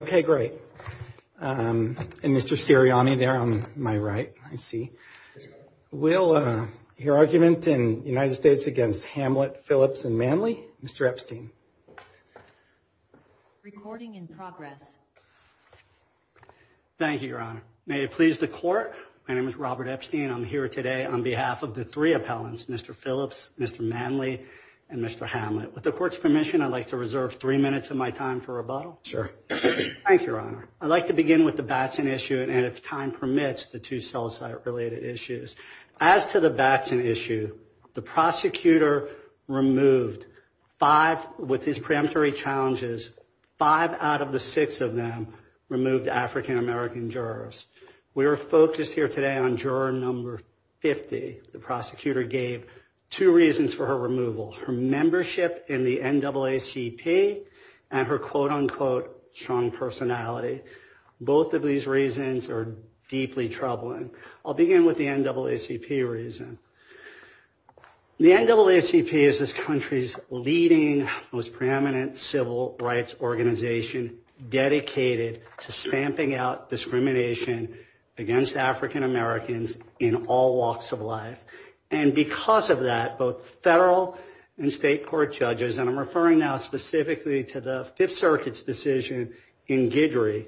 Okay, great. And Mr. Sirianni there on my right, I see. We'll hear argument in the United States against Hamlet, Phillips, and Manley. Mr. Epstein. Recording in progress. Thank you, Your Honor. May it please the Court, my name is Robert Epstein. I'm here today on behalf of the three appellants, Mr. Phillips, Mr. Manley, and Mr. Hamlet. With the Court's permission, I'd like to reserve three minutes of my time for rebuttal. Thank you, Your Honor. I'd like to begin with the Batson issue, and if time permits, the two sell-site-related issues. As to the Batson issue, the prosecutor removed five, with his preemptory challenges, five out of the six of them removed African-American jurors. We are focused here today on juror number 50. The prosecutor gave two reasons for her removal. Her membership in the NAACP and her quote-unquote strong personality. Both of these reasons are deeply troubling. I'll begin with the NAACP reason. The NAACP is this country's leading, most preeminent civil rights organization dedicated to stamping out discrimination against African-Americans in all walks of life. And because of that, both federal and state court judges, and I'm referring now specifically to the Fifth Circuit's decision in Guidry,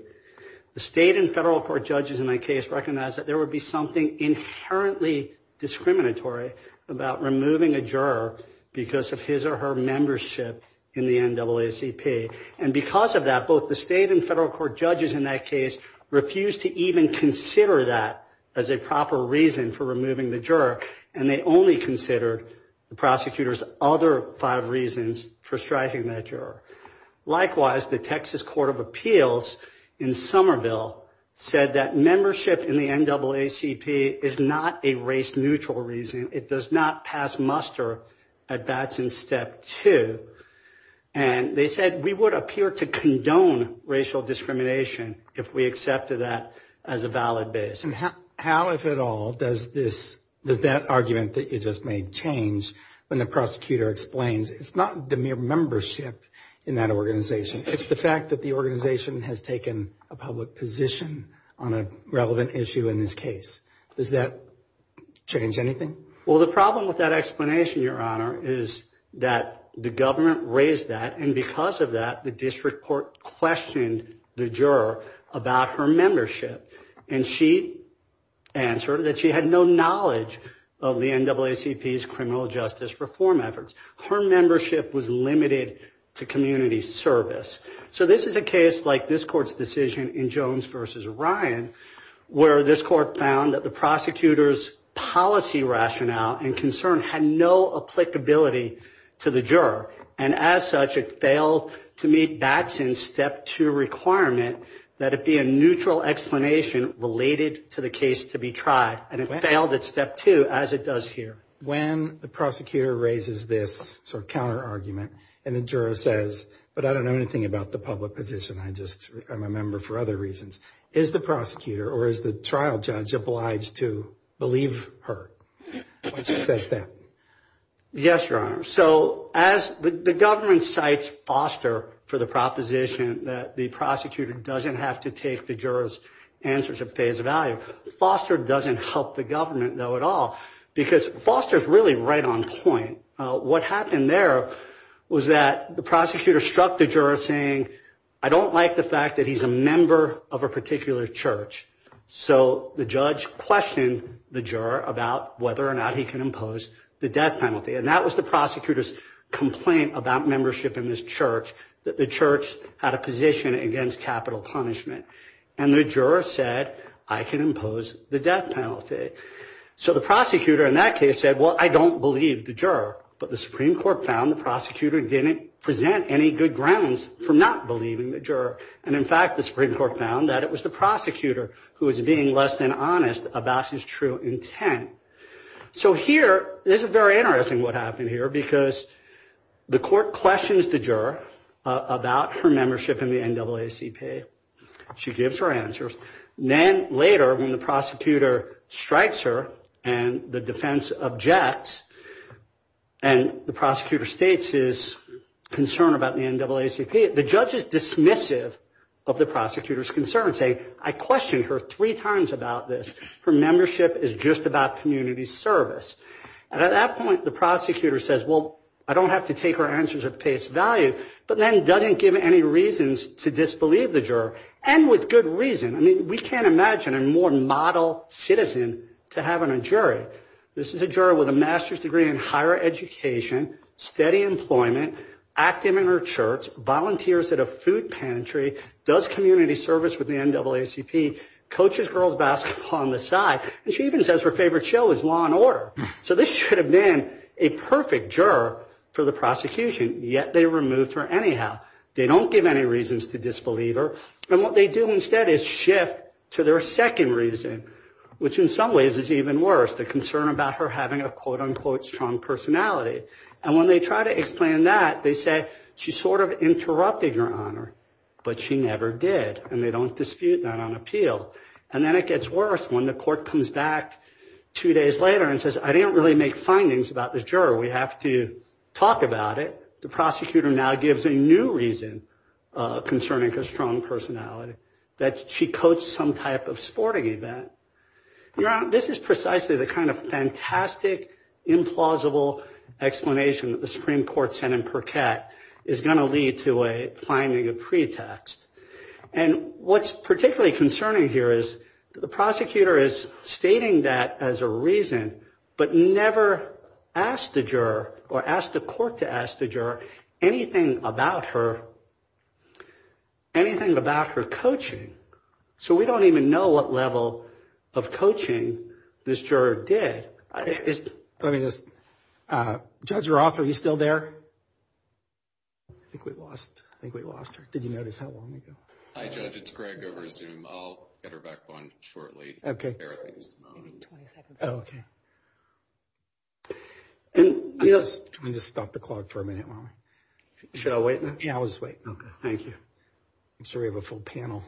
the state and federal court judges in that case recognized that there would be something inherently discriminatory about removing a juror because of his or her membership in the NAACP. And because of that, both the state and federal court judges in that case refused to even consider that as a proper reason for removing the juror, and they only considered the prosecutor's other five reasons for striking that juror. Likewise, the Texas Court of Appeals in Somerville said that membership in the NAACP is not a race-neutral reason. It does not pass muster at bats in step two. And they said we would appear to condone racial discrimination if we accepted that as a valid basis. How, if at all, does that argument that you just made change when the prosecutor explains it's not the mere membership in that organization. It's the fact that the organization has taken a public position on a relevant issue in this case. Does that change anything? Well, the problem with that explanation, Your Honor, is that the government raised that, and because of that, the district court questioned the juror about her membership. And she answered that she had no knowledge of the NAACP's criminal justice reform efforts. Her membership was limited to community service. So this is a case like this court's decision in Jones v. Ryan, where this court found that the prosecutor's policy rationale and concern had no applicability to the juror. And as such, it failed to meet bats in step two requirement that it be a neutral explanation related to the case to be tried. And it failed at step two, as it does here. When the prosecutor raises this sort of counter-argument, and the juror says, but I don't know anything about the public position, I just am a member for other reasons, is the prosecutor or is the trial judge obliged to believe her when she says that? Yes, Your Honor. So as the government cites Foster for the proposition that the prosecutor doesn't have to take the juror's answers at face value, Foster doesn't help the government, though, at all. Because Foster's really right on point. What happened there was that the prosecutor struck the juror saying, I don't like the fact that he's a member of a particular church. So the judge questioned the juror about whether or not he can impose the death penalty. And that was the prosecutor's complaint about membership in this church, that the church had a position against capital punishment. And the juror said, I can impose the death penalty. So the prosecutor in that case said, well, I don't believe the juror. But the Supreme Court found the prosecutor didn't present any good grounds for not believing the juror. And, in fact, the Supreme Court found that it was the prosecutor who was being less than honest about his true intent. So here, this is very interesting what happened here, because the court questions the juror about her membership in the NAACP. She gives her answers. Then, later, when the prosecutor strikes her and the defense objects, and the prosecutor states his concern about the NAACP, the judge is dismissive of the prosecutor's concerns, saying, I questioned her three times about this. Her membership is just about community service. And at that point, the prosecutor says, well, I don't have to take her answers at face value, but then doesn't give any reasons to disbelieve the juror, and with good reason. I mean, we can't imagine a more model citizen to have on a jury. This is a juror with a master's degree in higher education, steady employment, active in her church, volunteers at a food pantry, does community service with the NAACP, coaches girls' basketball on the side, and she even says her favorite show is Law and Order. So this should have been a perfect juror for the prosecution, yet they removed her anyhow. They don't give any reasons to disbelieve her. And what they do instead is shift to their second reason, which in some ways is even worse, the concern about her having a quote, unquote, strong personality. And when they try to explain that, they say, she sort of interrupted your honor, but she never did. And they don't dispute that on appeal. And then it gets worse when the court comes back two days later and says, I didn't really make findings about the juror. We have to talk about it. The prosecutor now gives a new reason concerning her strong personality, that she coached some type of sporting event. Your Honor, this is precisely the kind of fantastic, implausible explanation that the Supreme Court sent in Percat is going to lead to a finding of pretext. And what's particularly concerning here is the prosecutor is stating that as a reason, but never asked the juror or asked the court to ask the juror anything about her, anything about her coaching. So we don't even know what level of coaching this juror did. Judge Roth, are you still there? I think we lost her. Did you notice how long ago? Hi, Judge, it's Greg over Zoom. I'll get her back on shortly. Okay. Okay. And just stop the clock for a minute. Shall we? Yeah, I'll just wait. Thank you. I'm sorry, we have a full panel.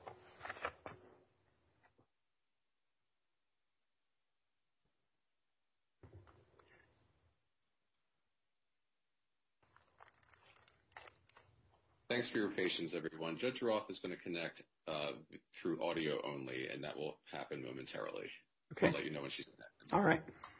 Okay. Okay. Okay. Thanks for your patience, everyone. Judge Roth is going to connect through audio only, and that will happen momentarily. Okay. I'll let you know when she's connected. All right. Okay. Okay. Okay. Okay.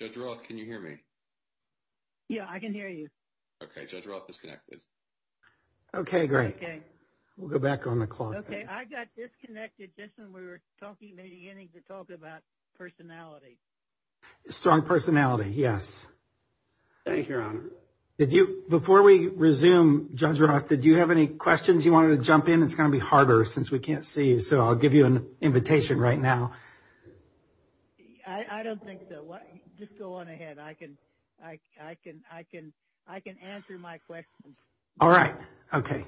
Judge Roth, can you hear me? Yeah, I can hear you. Okay, Judge Roth is connected. Okay, great. Okay. We'll go back on the clock. Okay. I got disconnected just when we were talking, maybe getting to talk about personality. Strong personality, yes. Thank you, Your Honor. Before we resume, Judge Roth, did you have any questions you wanted to jump in? It's going to be harder since we can't see you, so I'll give you an invitation right now. I don't think so. Just go on ahead. I can answer my questions. All right. Okay.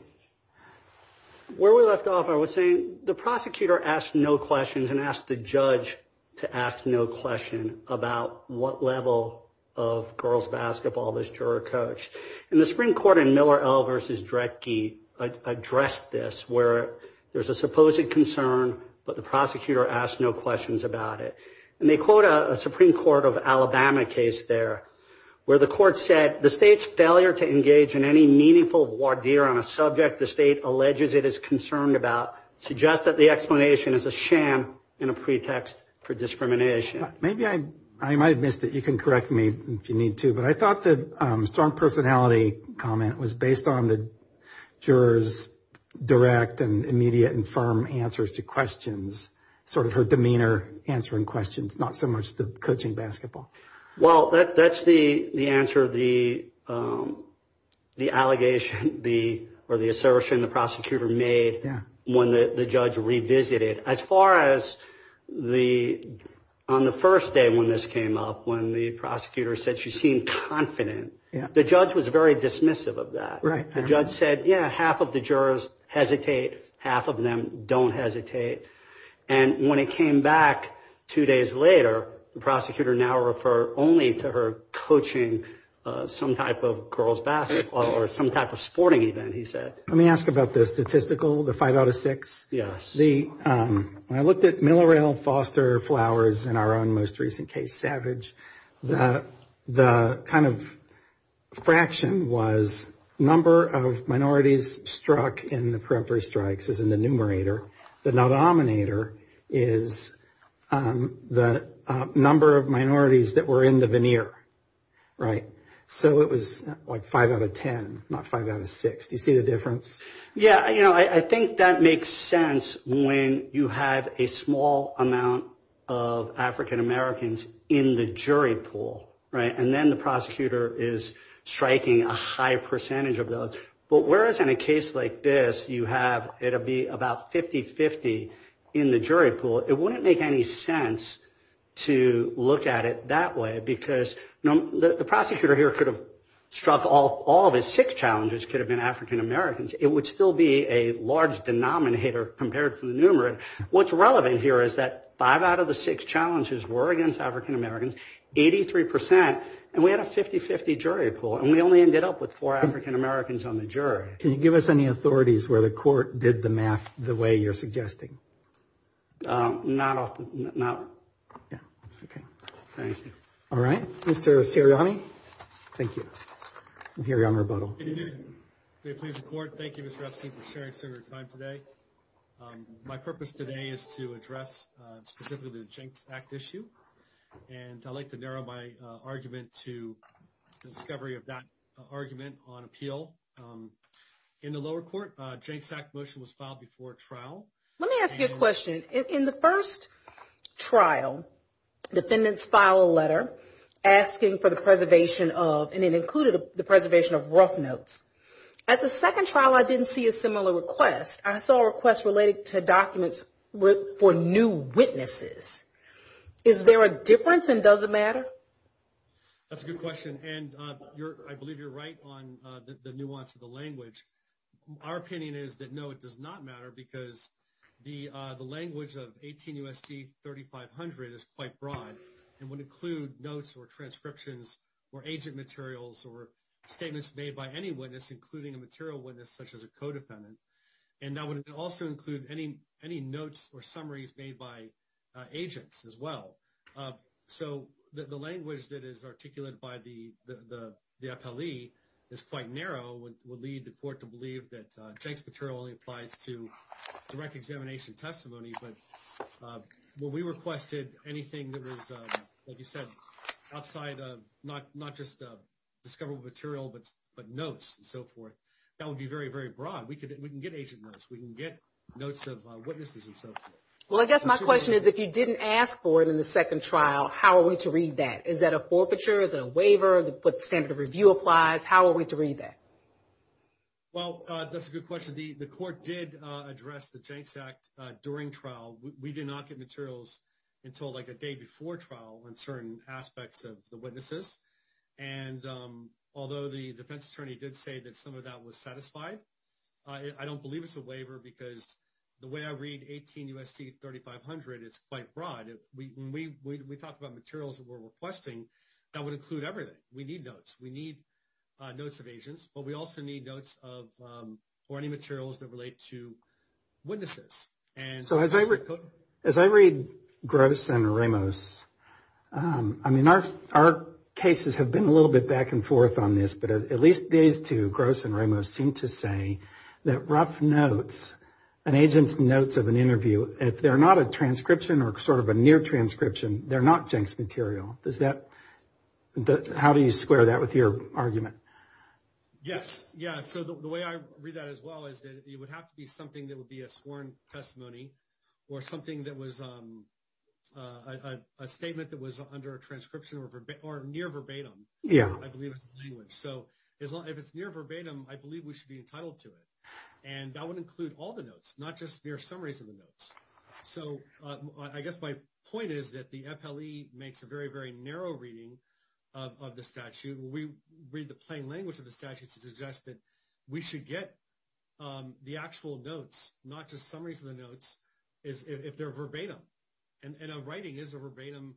Where we left off, I was saying the prosecutor asked no questions and asked the judge to ask no question about what level of girls' basketball this juror coached. And the Supreme Court in Miller L. v. Dredge addressed this where there's a supposed concern, but the prosecutor asked no questions about it. And they quote a Supreme Court of Alabama case there where the court said, the State's failure to engage in any meaningful voir dire on a subject the State alleges it is concerned about suggests that the explanation is a sham and a pretext for discrimination. Maybe I might have missed it. You can correct me if you need to. But I thought the strong personality comment was based on the juror's direct and immediate and firm answers to questions, sort of her demeanor answering questions, not so much the coaching basketball. Well, that's the answer the allegation or the assertion the prosecutor made when the judge revisited. As far as on the first day when this came up, when the prosecutor said she seemed confident, the judge was very dismissive of that. The judge said, yeah, half of the jurors hesitate, half of them don't hesitate. And when it came back two days later, the prosecutor now referred only to her coaching some type of girls' basketball or some type of sporting event, he said. Let me ask about the statistical, the five out of six. Yes. When I looked at Miller L. Foster Flowers in our own most recent case, Savage, the kind of fraction was number of minorities struck in the periphery strikes, which is in the numerator. The denominator is the number of minorities that were in the veneer. Right. So it was like five out of ten, not five out of six. Do you see the difference? Yeah. You know, I think that makes sense. When you have a small amount of African-Americans in the jury pool. Right. And then the prosecutor is striking a high percentage of those. But whereas in a case like this you have, it'll be about 50-50 in the jury pool, it wouldn't make any sense to look at it that way because, you know, the prosecutor here could have struck all of his six challenges, could have been African-Americans. It would still be a large denominator compared to the numerator. What's relevant here is that five out of the six challenges were against African-Americans, 83%, and we had a 50-50 jury pool, and we only ended up with four African-Americans on the jury. Can you give us any authorities where the court did the math the way you're suggesting? Not often. Yeah. Okay. Thank you. All right. Mr. Sirianni. Thank you. I'm hearing a rebuttal. May it please the Court. Thank you, Mr. Epstein, for sharing your time today. My purpose today is to address specifically the Jinx Act issue, and I'd like to narrow my argument to the discovery of that argument on appeal. In the lower court, a Jinx Act motion was filed before trial. Let me ask you a question. In the first trial, defendants filed a letter asking for the preservation of, and it included the preservation of, rough notes. At the second trial, I didn't see a similar request. I saw a request related to documents for new witnesses. Is there a difference, and does it matter? That's a good question, and I believe you're right on the nuance of the language. Our opinion is that, no, it does not matter because the language of 18 U.S.C. 3500 is quite broad and would include notes or transcriptions or agent materials or statements made by any witness, including a material witness such as a co-defendant, and that would also include any notes or summaries made by agents as well. So the language that is articulated by the appellee is quite narrow, would lead the court to believe that Jinx material only applies to direct examination testimony, but when we requested anything that was, like you said, outside of not just discoverable material but notes and so forth, that would be very, very broad. We can get agent notes. We can get notes of witnesses and so forth. Well, I guess my question is, if you didn't ask for it in the second trial, how are we to read that? Is that a forfeiture? Is it a waiver? What standard of review applies? How are we to read that? Well, that's a good question. The court did address the Jinx Act during trial. We did not get materials until, like, a day before trial on certain aspects of the witnesses, and although the defense attorney did say that some of that was satisfied, I don't believe it's a waiver because the way I read 18 U.S.C. 3500, it's quite broad. When we talk about materials that we're requesting, that would include everything. We need notes. We need notes of agents, but we also need notes of any materials that relate to witnesses. So as I read Gross and Ramos, I mean, our cases have been a little bit back and forth on this, but at least these two, Gross and Ramos, seem to say that rough notes and agents' notes of an interview, if they're not a transcription or sort of a near transcription, they're not Jinx material. How do you square that with your argument? Yes. Yeah, so the way I read that as well is that it would have to be something that would be a sworn testimony or something that was a statement that was under a transcription or near verbatim. Yeah. So if it's near verbatim, I believe we should be entitled to it. And that would include all the notes, not just mere summaries of the notes. So I guess my point is that the FLE makes a very, very narrow reading of the statute. We read the plain language of the statute to suggest that we should get the actual notes, not just summaries of the notes, if they're verbatim. And a writing is a verbatim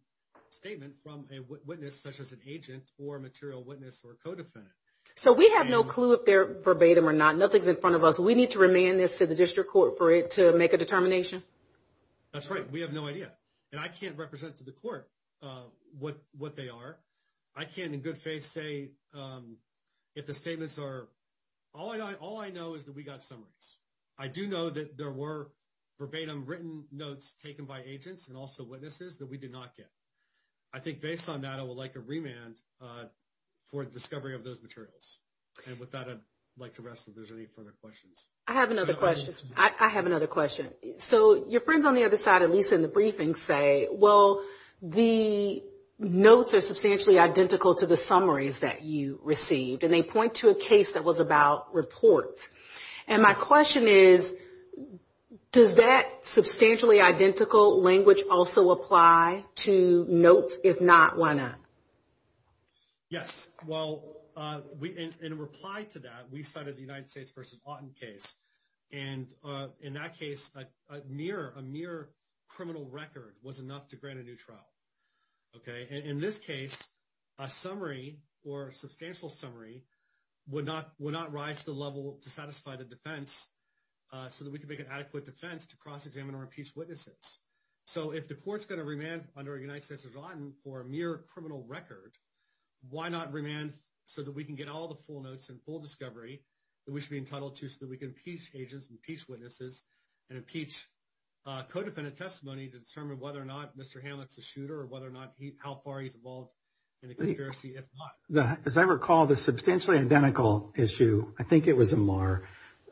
statement from a witness such as an agent or a material witness or a codefendant. So we have no clue if they're verbatim or not. Nothing's in front of us. We need to remand this to the district court for it to make a determination? That's right. We have no idea. And I can't represent to the court what they are. I can't in good faith say if the statements are – all I know is that we got summaries. I do know that there were verbatim written notes taken by agents and also witnesses that we did not get. I think based on that, I would like a remand for discovery of those materials. And with that, I'd like to rest if there's any further questions. I have another question. I have another question. So your friends on the other side, at least in the briefing, say, well, the notes are substantially identical to the summaries that you received, and they point to a case that was about reports. And my question is, does that substantially identical language also apply to notes, if not one-up? Yes. Well, in reply to that, we cited the United States v. Auten case. And in that case, a mere criminal record was enough to grant a new trial. And in this case, a summary or substantial summary would not rise to the level to satisfy the defense so that we could make an adequate defense to cross-examine or impeach witnesses. So if the court's going to remand under a United States v. Auten for a mere criminal record, why not remand so that we can get all the full notes and full discovery that we should be entitled to so that we can impeach agents and impeach witnesses and impeach co-defendant testimony to determine whether or not Mr. Hamlet's a shooter or how far he's involved in the conspiracy, if not. As I recall, the substantially identical issue, I think it was Amar,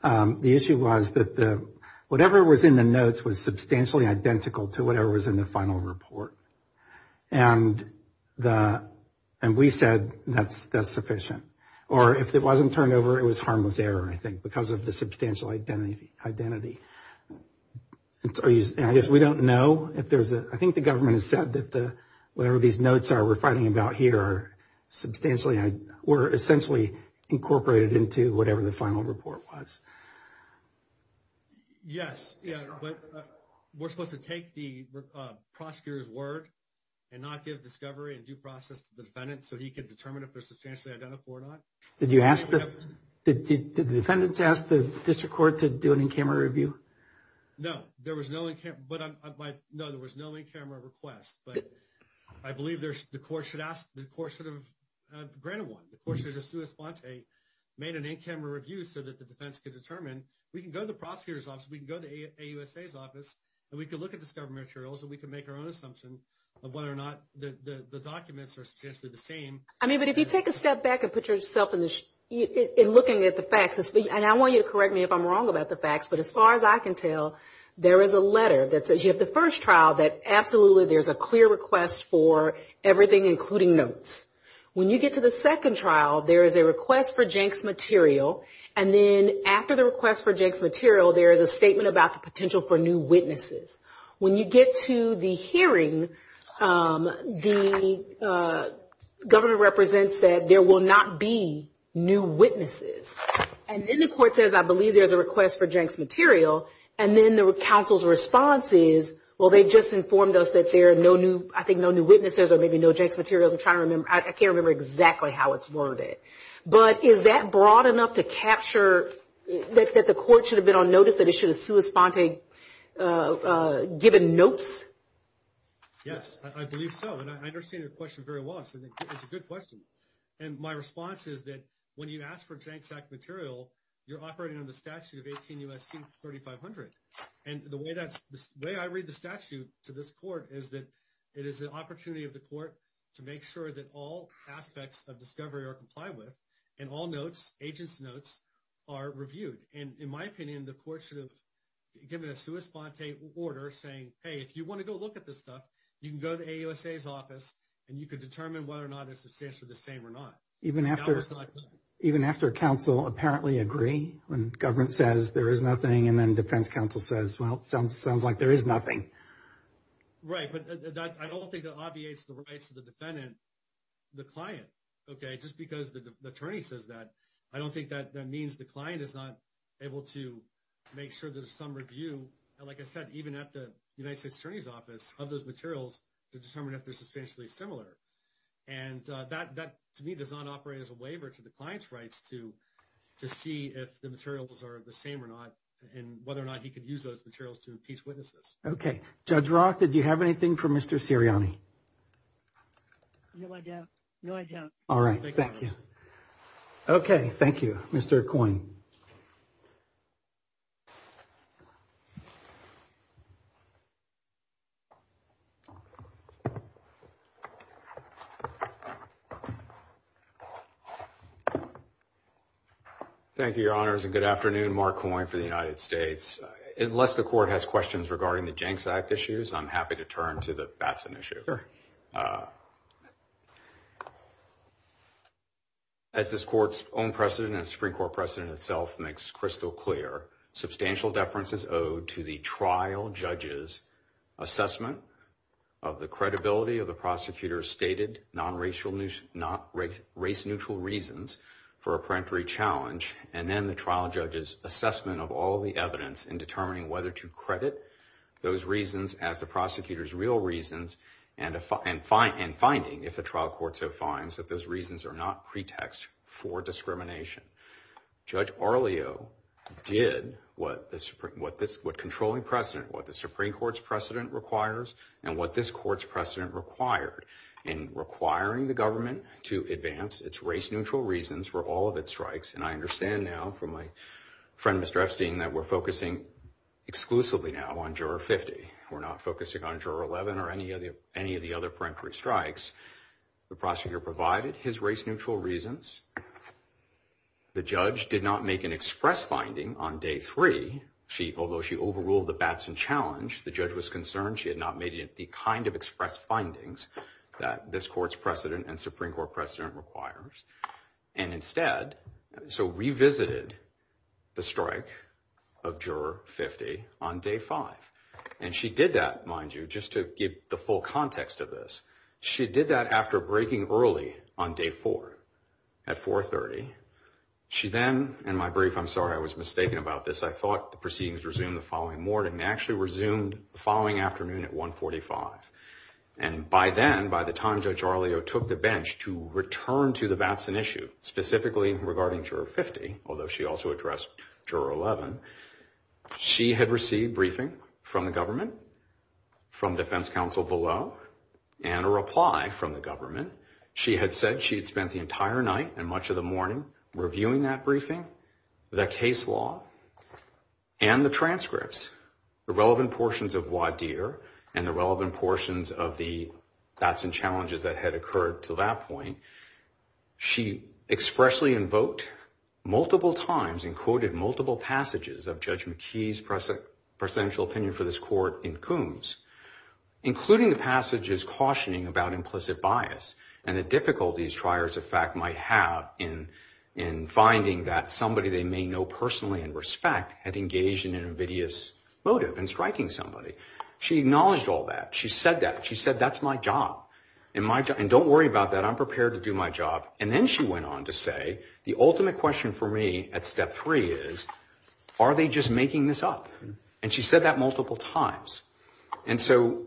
the issue was that whatever was in the notes was substantially identical to whatever was in the final report. And we said that's sufficient. Or if it wasn't turned over, it was harmless error, I think, because of the substantial identity. I guess we don't know if there's a, I think the government has said that the, whatever these notes are we're fighting about here are substantially, were essentially incorporated into whatever the final report was. Yes. We're supposed to take the prosecutor's word and not give discovery and due process to the defendant so he can determine if they're substantially identical or not. Did you ask the, did the defendants ask the district court to do an in-camera review? No, there was no in-camera request, but I believe the court should have granted one. The court should have just made an in-camera review so that the defense could determine, we can go to the prosecutor's office, we can go to AUSA's office, and we can look at discovery materials and we can make our own assumption of whether or not the documents are substantially the same. I mean, but if you take a step back and put yourself in looking at the facts, and I want you to correct me if I'm wrong about the facts, but as far as I can tell, there is a letter that says you have the first trial that absolutely there's a clear request for everything, including notes. When you get to the second trial, there is a request for Jenks material, and then after the request for Jenks material, there is a statement about the potential for new witnesses. When you get to the hearing, the government represents that there will not be new witnesses. And then the court says, I believe there's a request for Jenks material, and then the counsel's response is, well, they just informed us that there are no new, I think no new witnesses or maybe no Jenks materials. I'm trying to remember. I can't remember exactly how it's worded. But is that broad enough to capture that the court should have been on notice, that it should have given notes? Yes, I believe so. And I understand your question very well. It's a good question. And my response is that when you ask for Jenks material, you're operating under the statute of 18 U.S.C. 3500. And the way I read the statute to this court is that it is the opportunity of the court to make sure that all aspects of discovery are complied with and all notes, agent's notes, are reviewed. And in my opinion, the court should have given a sua sponte order saying, hey, if you want to go look at this stuff, you can go to the AUSA's office and you can determine whether or not it's substantially the same or not. Even after counsel apparently agree when government says there is nothing and then defense counsel says, well, it sounds like there is nothing. Right. But I don't think that obviates the rights of the defendant, the client. Okay. Just because the attorney says that, I don't think that means the client is not able to make sure there's some review. And like I said, even at the United States Attorney's Office of those materials to determine if they're substantially similar. And that to me does not operate as a waiver to the client's rights to see if the materials are the same or not and whether or not he could use those materials to impeach witnesses. Okay. Judge Rock, did you have anything for Mr. Sirianni? No, I don't. All right. Thank you. Okay. Thank you. Mr. Coyne. Thank you, Your Honors. And good afternoon. Mark Coyne for the United States. Unless the court has questions regarding the Jenks Act issues, I'm happy to turn to the Batson issue. Sure. As this court's own precedent and Supreme Court precedent itself makes crystal clear, substantial deference is owed to the trial judge's assessment of the credibility of the prosecutor's stated non-racial, not race-neutral reasons for a peremptory challenge, and then the trial judge's assessment of all the evidence in determining whether to credit those reasons as the prosecutor's real reasons and finding, if the trial court so finds, that those reasons are not pretext for discrimination. Judge Arlio did what controlling precedent, what the Supreme Court's precedent requires and what this court's precedent required in requiring the government to advance its race-neutral reasons for all of its strikes. And I understand now from my friend, Mr. Epstein, that we're focusing exclusively now on Juror 50. We're not focusing on Juror 11 or any of the other peremptory strikes. The prosecutor provided his race-neutral reasons. The judge did not make an express finding on Day 3. Although she overruled the Batson challenge, the judge was concerned she had not made the kind of express findings that this court's precedent and Supreme Court precedent requires. And instead, so revisited the strike of Juror 50 on Day 5. And she did that, mind you, just to give the full context of this. She did that after breaking early on Day 4 at 4.30. She then, in my brief, I'm sorry, I was mistaken about this. I thought the proceedings resumed the following morning. They actually resumed the following afternoon at 1.45. And by then, by the time Judge Arleo took the bench to return to the Batson issue, specifically regarding Juror 50, although she also addressed Juror 11, she had received briefing from the government, from defense counsel below, and a reply from the government. She had said she had spent the entire night and much of the morning reviewing that briefing, the case law, and the transcripts, the relevant portions of Wadir and the relevant portions of the Batson challenges that had occurred to that point. She expressly invoked multiple times and quoted multiple passages of Judge McKee's presidential opinion for this court in Coombs, including the passages cautioning about implicit bias and the difficulties triers of fact might have in finding that somebody they may know personally and respect had engaged in an invidious motive in striking somebody. She acknowledged all that. She said that. She said, that's my job. And don't worry about that. I'm prepared to do my job. And then she went on to say, the ultimate question for me at Step 3 is, are they just making this up? And she said that multiple times. And so,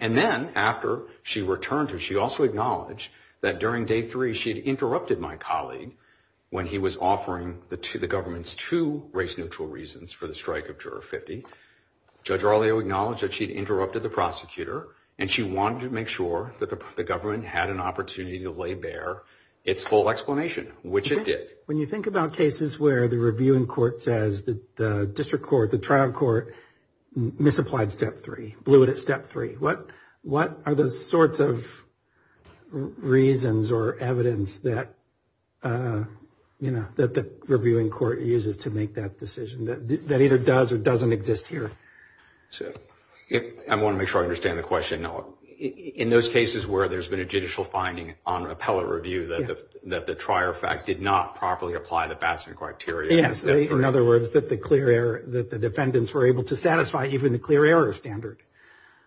and then after she returned, she also acknowledged that during Day 3, she had interrupted my colleague when he was offering the government's two race-neutral reasons for the strike of Juror 50. Judge Arleo acknowledged that she had interrupted the prosecutor, and she wanted to make sure that the government had an opportunity to lay bare its full explanation, which it did. When you think about cases where the reviewing court says that the district court, the trial court, misapplied Step 3, blew it at Step 3, what are the sorts of reasons or evidence that, you know, that the reviewing court uses to make that decision that either does or doesn't exist here? I want to make sure I understand the question. In those cases where there's been a judicial finding on an appellate review that the trier fact did not properly apply the Batson criteria. Yes, in other words, that the clear error, that the defendants were able to satisfy even the clear error standard.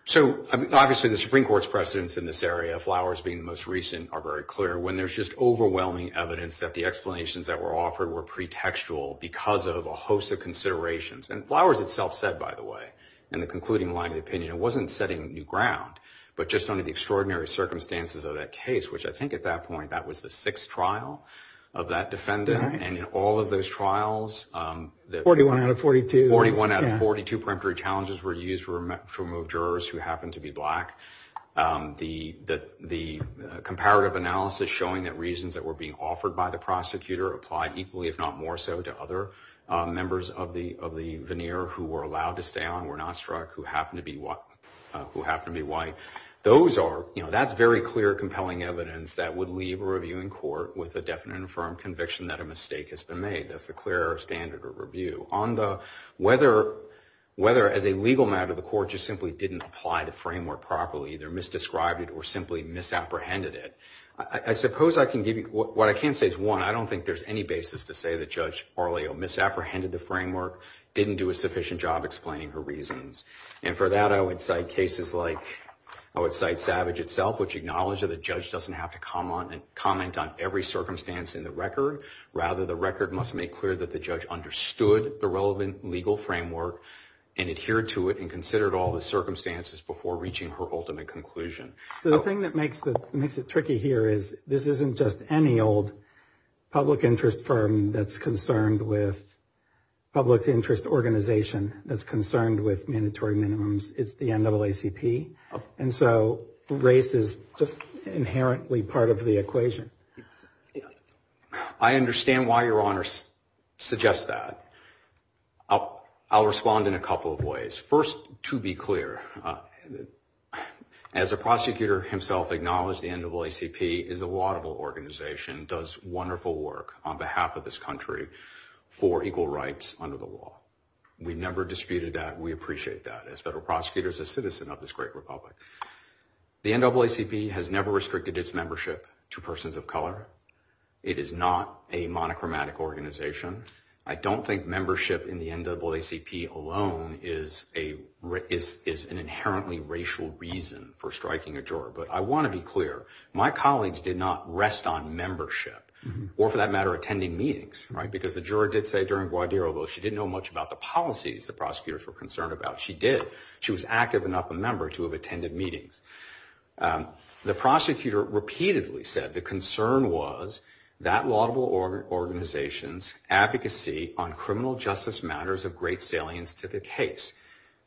So, obviously, the Supreme Court's precedence in this area, Flowers being the most recent, are very clear. When there's just overwhelming evidence that the explanations that were offered were pretextual because of a host of considerations. And Flowers itself said, by the way, in the concluding line of the opinion, it wasn't setting new ground, but just under the extraordinary circumstances of that case, which I think at that point, that was the sixth trial of that defendant. And in all of those trials. 41 out of 42. 41 out of 42 preemptory challenges were used to remove jurors who happened to be black. The comparative analysis showing that reasons that were being offered by the prosecutor applied equally, if not more so, to other members of the veneer who were allowed to stay on, were not struck, who happened to be white. That's very clear, compelling evidence that would leave a reviewing court with a definite and firm conviction that a mistake has been made. That's the clear error standard of review. Whether, as a legal matter, the court just simply didn't apply the framework properly, either misdescribed it or simply misapprehended it. I suppose I can give you, what I can say is, one, I don't think there's any basis to say that Judge Barlio misapprehended the framework, didn't do a sufficient job explaining her reasons. And for that, I would cite cases like, I would cite Savage itself, which acknowledged that the judge doesn't have to comment on every circumstance in the record. Rather, the record must make clear that the judge understood the relevant legal framework and adhered to it and considered all the circumstances before reaching her ultimate conclusion. The thing that makes it tricky here is this isn't just any old public interest firm that's concerned with public interest organization that's concerned with mandatory minimums. It's the NAACP. And so race is just inherently part of the equation. I understand why Your Honor suggests that. I'll respond in a couple of ways. First, to be clear, as a prosecutor himself acknowledged, the NAACP is a laudable organization, does wonderful work on behalf of this country for equal rights under the law. We never disputed that. We appreciate that. As federal prosecutors, a citizen of this great republic. The NAACP has never restricted its membership to persons of color. It is not a monochromatic organization. I don't think membership in the NAACP alone is an inherently racial reason for striking a juror. But I want to be clear. My colleagues did not rest on membership or, for that matter, attending meetings. Because the juror did say during Guadiroubo she didn't know much about the policies the prosecutors were concerned about. She did. She was active enough a member to have attended meetings. The prosecutor repeatedly said the concern was that laudable organization's advocacy on criminal justice matters of great salience to the case.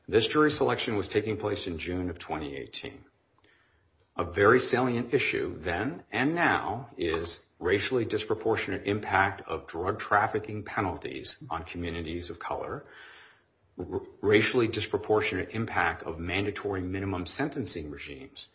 This jury selection was taking place in June of 2018. A very salient issue then and now is racially disproportionate impact of drug trafficking penalties on communities of color. Racially disproportionate impact of mandatory minimum sentencing regimes.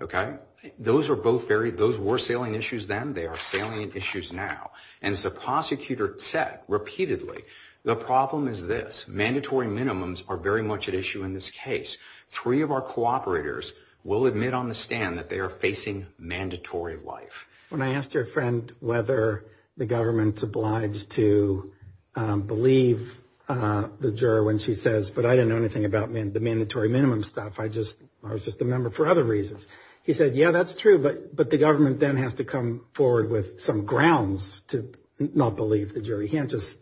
Okay? Those were salient issues then. They are salient issues now. And as the prosecutor said repeatedly, the problem is this. Mandatory minimums are very much at issue in this case. Three of our cooperators will admit on the stand that they are facing mandatory life. When I asked your friend whether the government's obliged to believe the juror when she says, but I didn't know anything about the mandatory minimum stuff. I was just a member for other reasons. He said, yeah, that's true. But the government then has to come forward with some grounds to not believe the jury. He can't just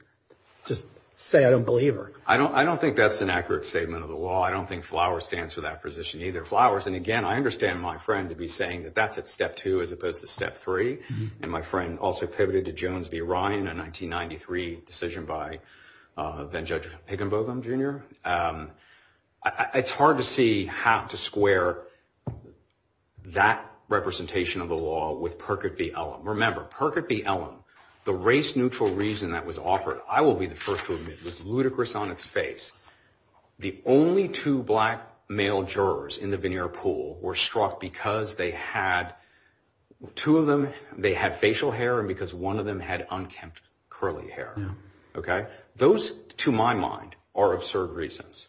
say I don't believe her. I don't think that's an accurate statement of the law. I don't think FLOWER stands for that position either. And again, I understand my friend to be saying that that's at step two as opposed to step three. And my friend also pivoted to Jones v. Ryan, a 1993 decision by then Judge Higginbotham, Jr. It's hard to see how to square that representation of the law with Perkett v. Ellum. Remember, Perkett v. Ellum, the race-neutral reason that was offered, I will be the first to admit, was ludicrous on its face. The only two black male jurors in the veneer pool were struck because they had two of them, they had facial hair, and because one of them had unkempt curly hair. Those, to my mind, are absurd reasons.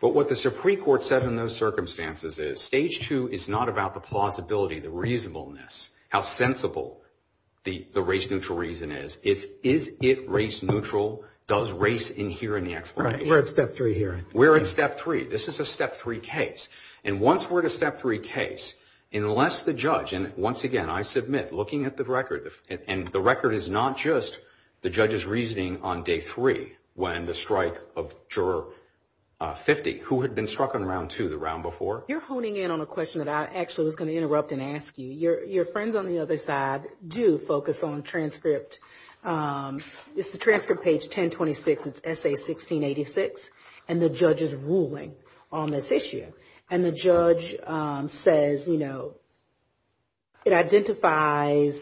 But what the Supreme Court said in those circumstances is stage two is not about the plausibility, the reasonableness, how sensible the race-neutral reason is. It's is it race-neutral, does race inhere in the explanation? We're at step three here. We're at step three. This is a step three case. And once we're at a step three case, unless the judge, and once again, I submit, looking at the record, and the record is not just the judge's reasoning on day three when the strike of juror 50, who had been struck on round two the round before. You're honing in on a question that I actually was going to interrupt and ask you. Your friends on the other side do focus on transcript. This is transcript page 1026. It's essay 1686. And the judge is ruling on this issue. And the judge says, you know, it identifies,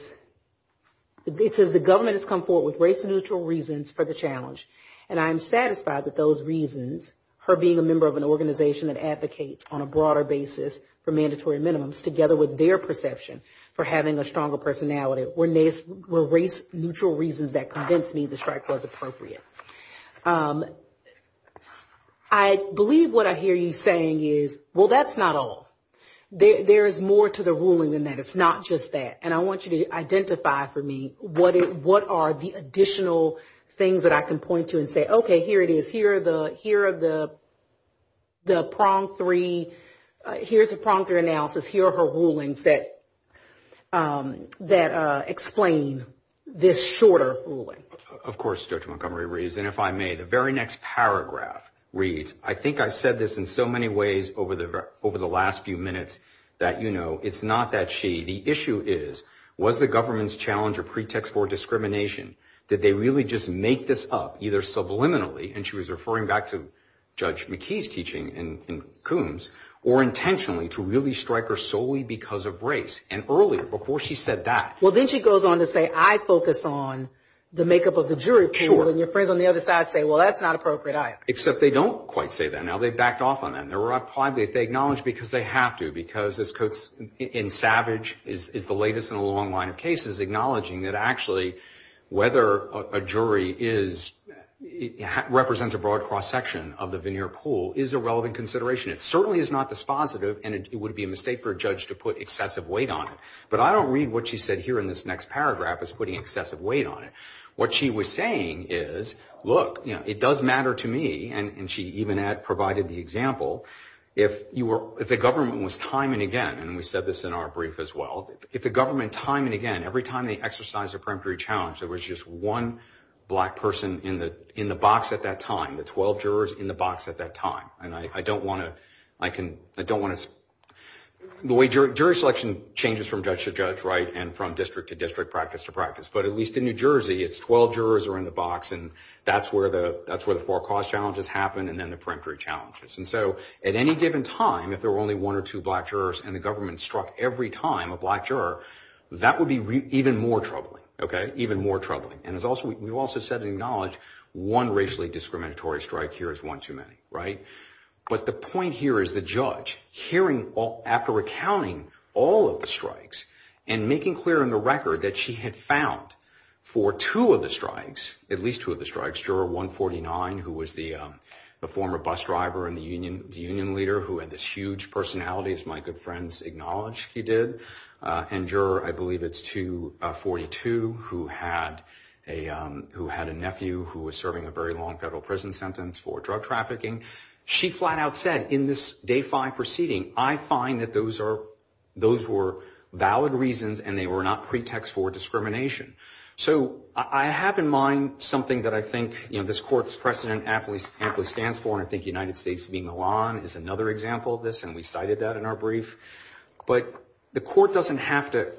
it says the government has come forward with race-neutral reasons for the challenge. And I'm satisfied that those reasons, her being a member of an organization that advocates on a broader basis for mandatory minimums, together with their perception for having a stronger personality, were race-neutral reasons that convinced me the strike was appropriate. I believe what I hear you saying is, well, that's not all. There is more to the ruling than that. It's not just that. And I want you to identify for me what are the additional things that I can point to and say, okay, here it is, here are the prong three, here's the prong three analysis, here are her rulings that explain this shorter ruling. Of course, Judge Montgomery reads. And if I may, the very next paragraph reads, I think I said this in so many ways over the last few minutes, that, you know, it's not that she. The issue is, was the government's challenge a pretext for discrimination? Did they really just make this up, either subliminally, and she was referring back to Judge McKee's teaching in Coombs, or intentionally to really strike her solely because of race? And earlier, before she said that. Well, then she goes on to say, I focus on the makeup of the jury pool. And your friends on the other side say, well, that's not appropriate either. Except they don't quite say that. Now, they backed off on that. And they're probably, they acknowledge because they have to, because this, in Savage, is the latest in a long line of cases, acknowledging that actually, whether a jury is, represents a broad cross-section of the veneer pool, is a relevant consideration. It certainly is not dispositive, and it would be a mistake for a judge to put excessive weight on it. But I don't read what she said here in this next paragraph as putting excessive weight on it. What she was saying is, look, it does matter to me, and she even provided the example, if the government was time and again, and we said this in our brief as well, if the government time and again, every time they exercise a peremptory challenge, there was just one black person in the box at that time. The 12 jurors in the box at that time. And I don't want to, I don't want to, the way jury selection changes from judge to judge, right, and from district to district, practice to practice. But at least in New Jersey, it's 12 jurors are in the box, and that's where the, that's where the four cost challenges happen, and then the peremptory challenges. And so, at any given time, if there were only one or two black jurors, and the government struck every time a black juror, that would be even more troubling, okay, even more troubling. And it's also, we've also said and acknowledged, one racially discriminatory strike here is one too many, right? But the point here is the judge hearing, after recounting all of the strikes, and making clear in the record that she had found for two of the strikes, at least two of the strikes, juror 149, who was the former bus driver and the union leader who had this huge personality, as my good friends acknowledge he did, and juror, I believe it's 242, who had a nephew who was serving a very long federal prison sentence for drug trafficking. She flat out said, in this day five proceeding, I find that those are, those were valid reasons, and they were not pretext for discrimination. So, I have in mind something that I think, you know, this court's precedent aptly stands for, and I think United States v. Milan is another example of this, and we cited that in our brief. But the court doesn't have to,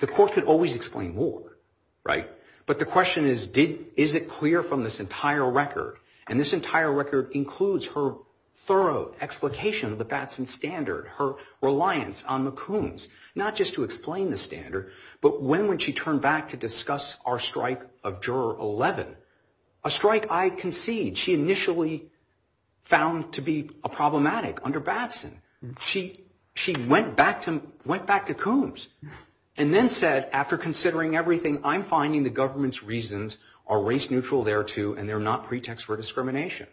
the court could always explain more, right? But the question is, is it clear from this entire record, and this entire record includes her thorough explication of the Batson standard, her reliance on McCombs, not just to explain the standard, but when would she turn back to discuss our strike of juror 11, a strike I concede she initially found to be a problematic under Batson. She went back to Combs, and then said, after considering everything, I'm finding the government's reasons are race neutral thereto, and they're not pretext for discrimination.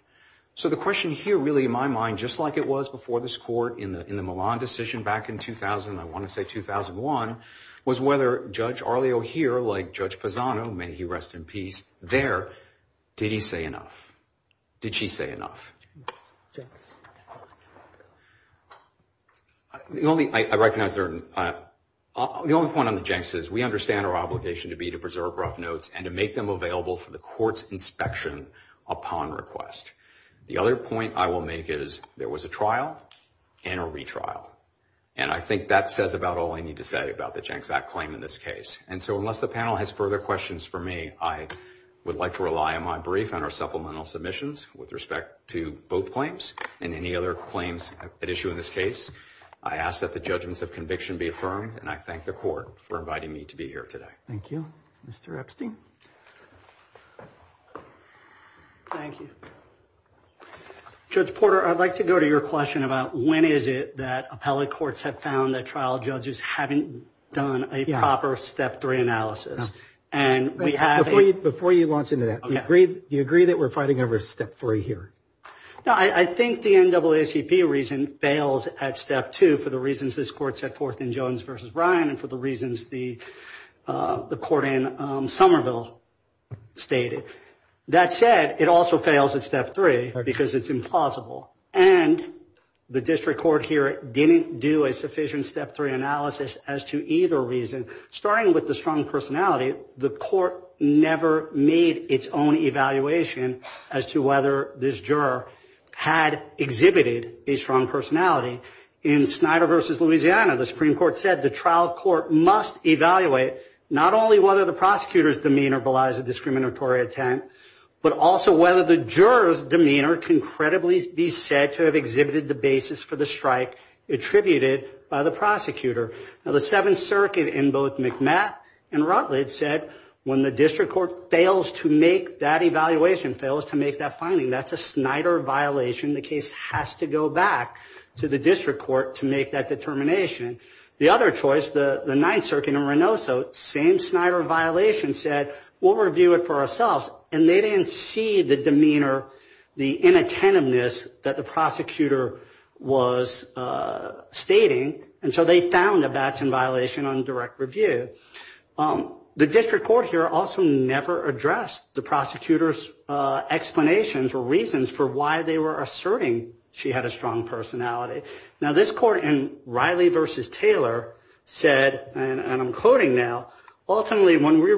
So the question here, really in my mind, just like it was before this court in the Milan decision back in 2000, I want to say 2001, was whether Judge Arleo here, like Judge Pazano, may he rest in peace, there, did he say enough? Did she say enough? The only, I recognize there, the only point on the Jenks is we understand our obligation to be to preserve rough notes and to make them available for the court's inspection upon request. The other point I will make is there was a trial and a retrial, and I think that says about all I need to say about the Jenks Act claim in this case. And so unless the panel has further questions for me, I would like to rely on my brief and our supplemental submissions with respect to both claims and any other claims at issue in this case. I ask that the judgments of conviction be affirmed, and I thank the court for inviting me to be here today. Thank you. Mr. Epstein. Thank you. Judge Porter, I'd like to go to your question about when is it that appellate courts have found that trial judges haven't done a proper step three analysis. Before you launch into that, do you agree that we're fighting over step three here? No, I think the NAACP reason fails at step two for the reasons this court set forth in Jones v. Ryan and for the reasons the court in Somerville stated. That said, it also fails at step three because it's implausible. And the district court here didn't do a sufficient step three analysis as to either reason. Starting with the strong personality, the court never made its own evaluation as to whether this juror had exhibited a strong personality. In Snyder v. Louisiana, the Supreme Court said the trial court must evaluate not only whether the prosecutor's demeanor belies a discriminatory attempt, but also whether the juror's demeanor can credibly be said to have exhibited the basis for the strike attributed by the prosecutor. Now, the Seventh Circuit in both McMath and Rutledge said when the district court fails to make that evaluation, fails to make that finding, that's a Snyder violation. The case has to go back to the district court to make that determination. The other choice, the Ninth Circuit in Reynoso, same Snyder violation, said we'll review it for ourselves. And they didn't see the demeanor, the inattentiveness that the prosecutor was stating. And so they found that that's a violation on direct review. The district court here also never addressed the prosecutor's explanations or reasons for why they were asserting she had a strong personality. Now, this court in Riley v. Taylor said, and I'm quoting now, ultimately when we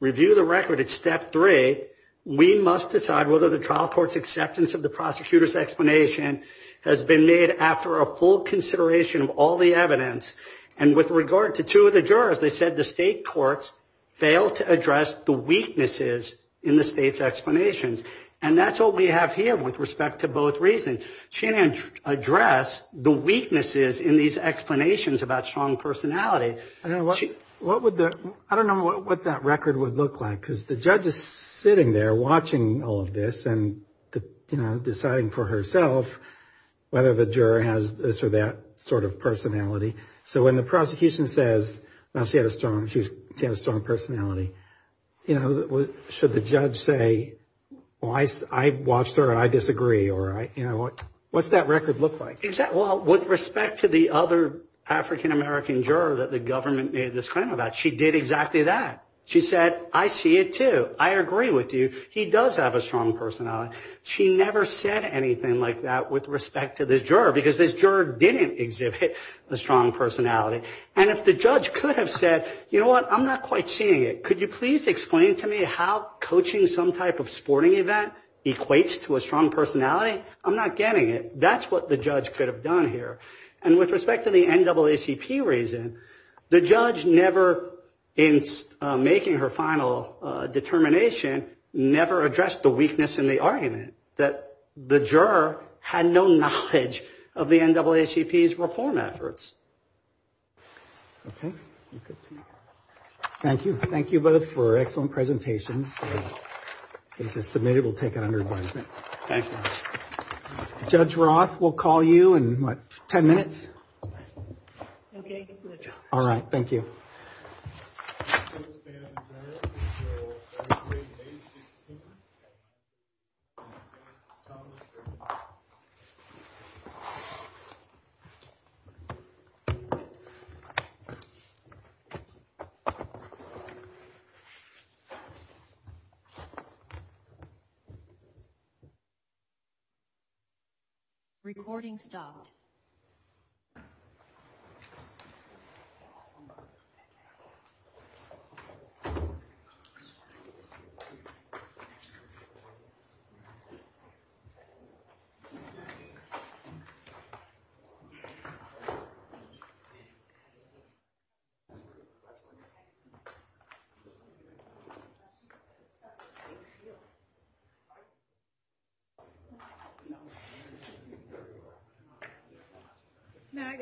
review the record at step three, we must decide whether the trial court's acceptance of the prosecutor's explanation has been made after a full consideration of all the evidence. And with regard to two of the jurors, they said the state courts failed to address the weaknesses in the state's explanations. And that's what we have here with respect to both reasons. She didn't address the weaknesses in these explanations about strong personality. I don't know what that record would look like because the judge is sitting there watching all of this and deciding for herself whether the juror has this or that sort of personality. So when the prosecution says she had a strong personality, should the judge say, I watched her and I disagree? Or what's that record look like? Well, with respect to the other African-American juror that the government made this claim about, she did exactly that. She said, I see it, too. I agree with you. He does have a strong personality. She never said anything like that with respect to this juror because this juror didn't exhibit a strong personality. And if the judge could have said, you know what, I'm not quite seeing it. Could you please explain to me how coaching some type of sporting event equates to a strong personality? I'm not getting it. That's what the judge could have done here. And with respect to the NAACP reason, the judge never, in making her final determination, never addressed the weakness in the argument that the juror had no knowledge of the NAACP's reform efforts. Thank you. Thank you both for excellent presentations. If this is submitted, we'll take it under advisement. Thank you. Judge Roth, we'll call you in, what, 10 minutes? OK. All right. Thank you. Recording stopped. Now I got it.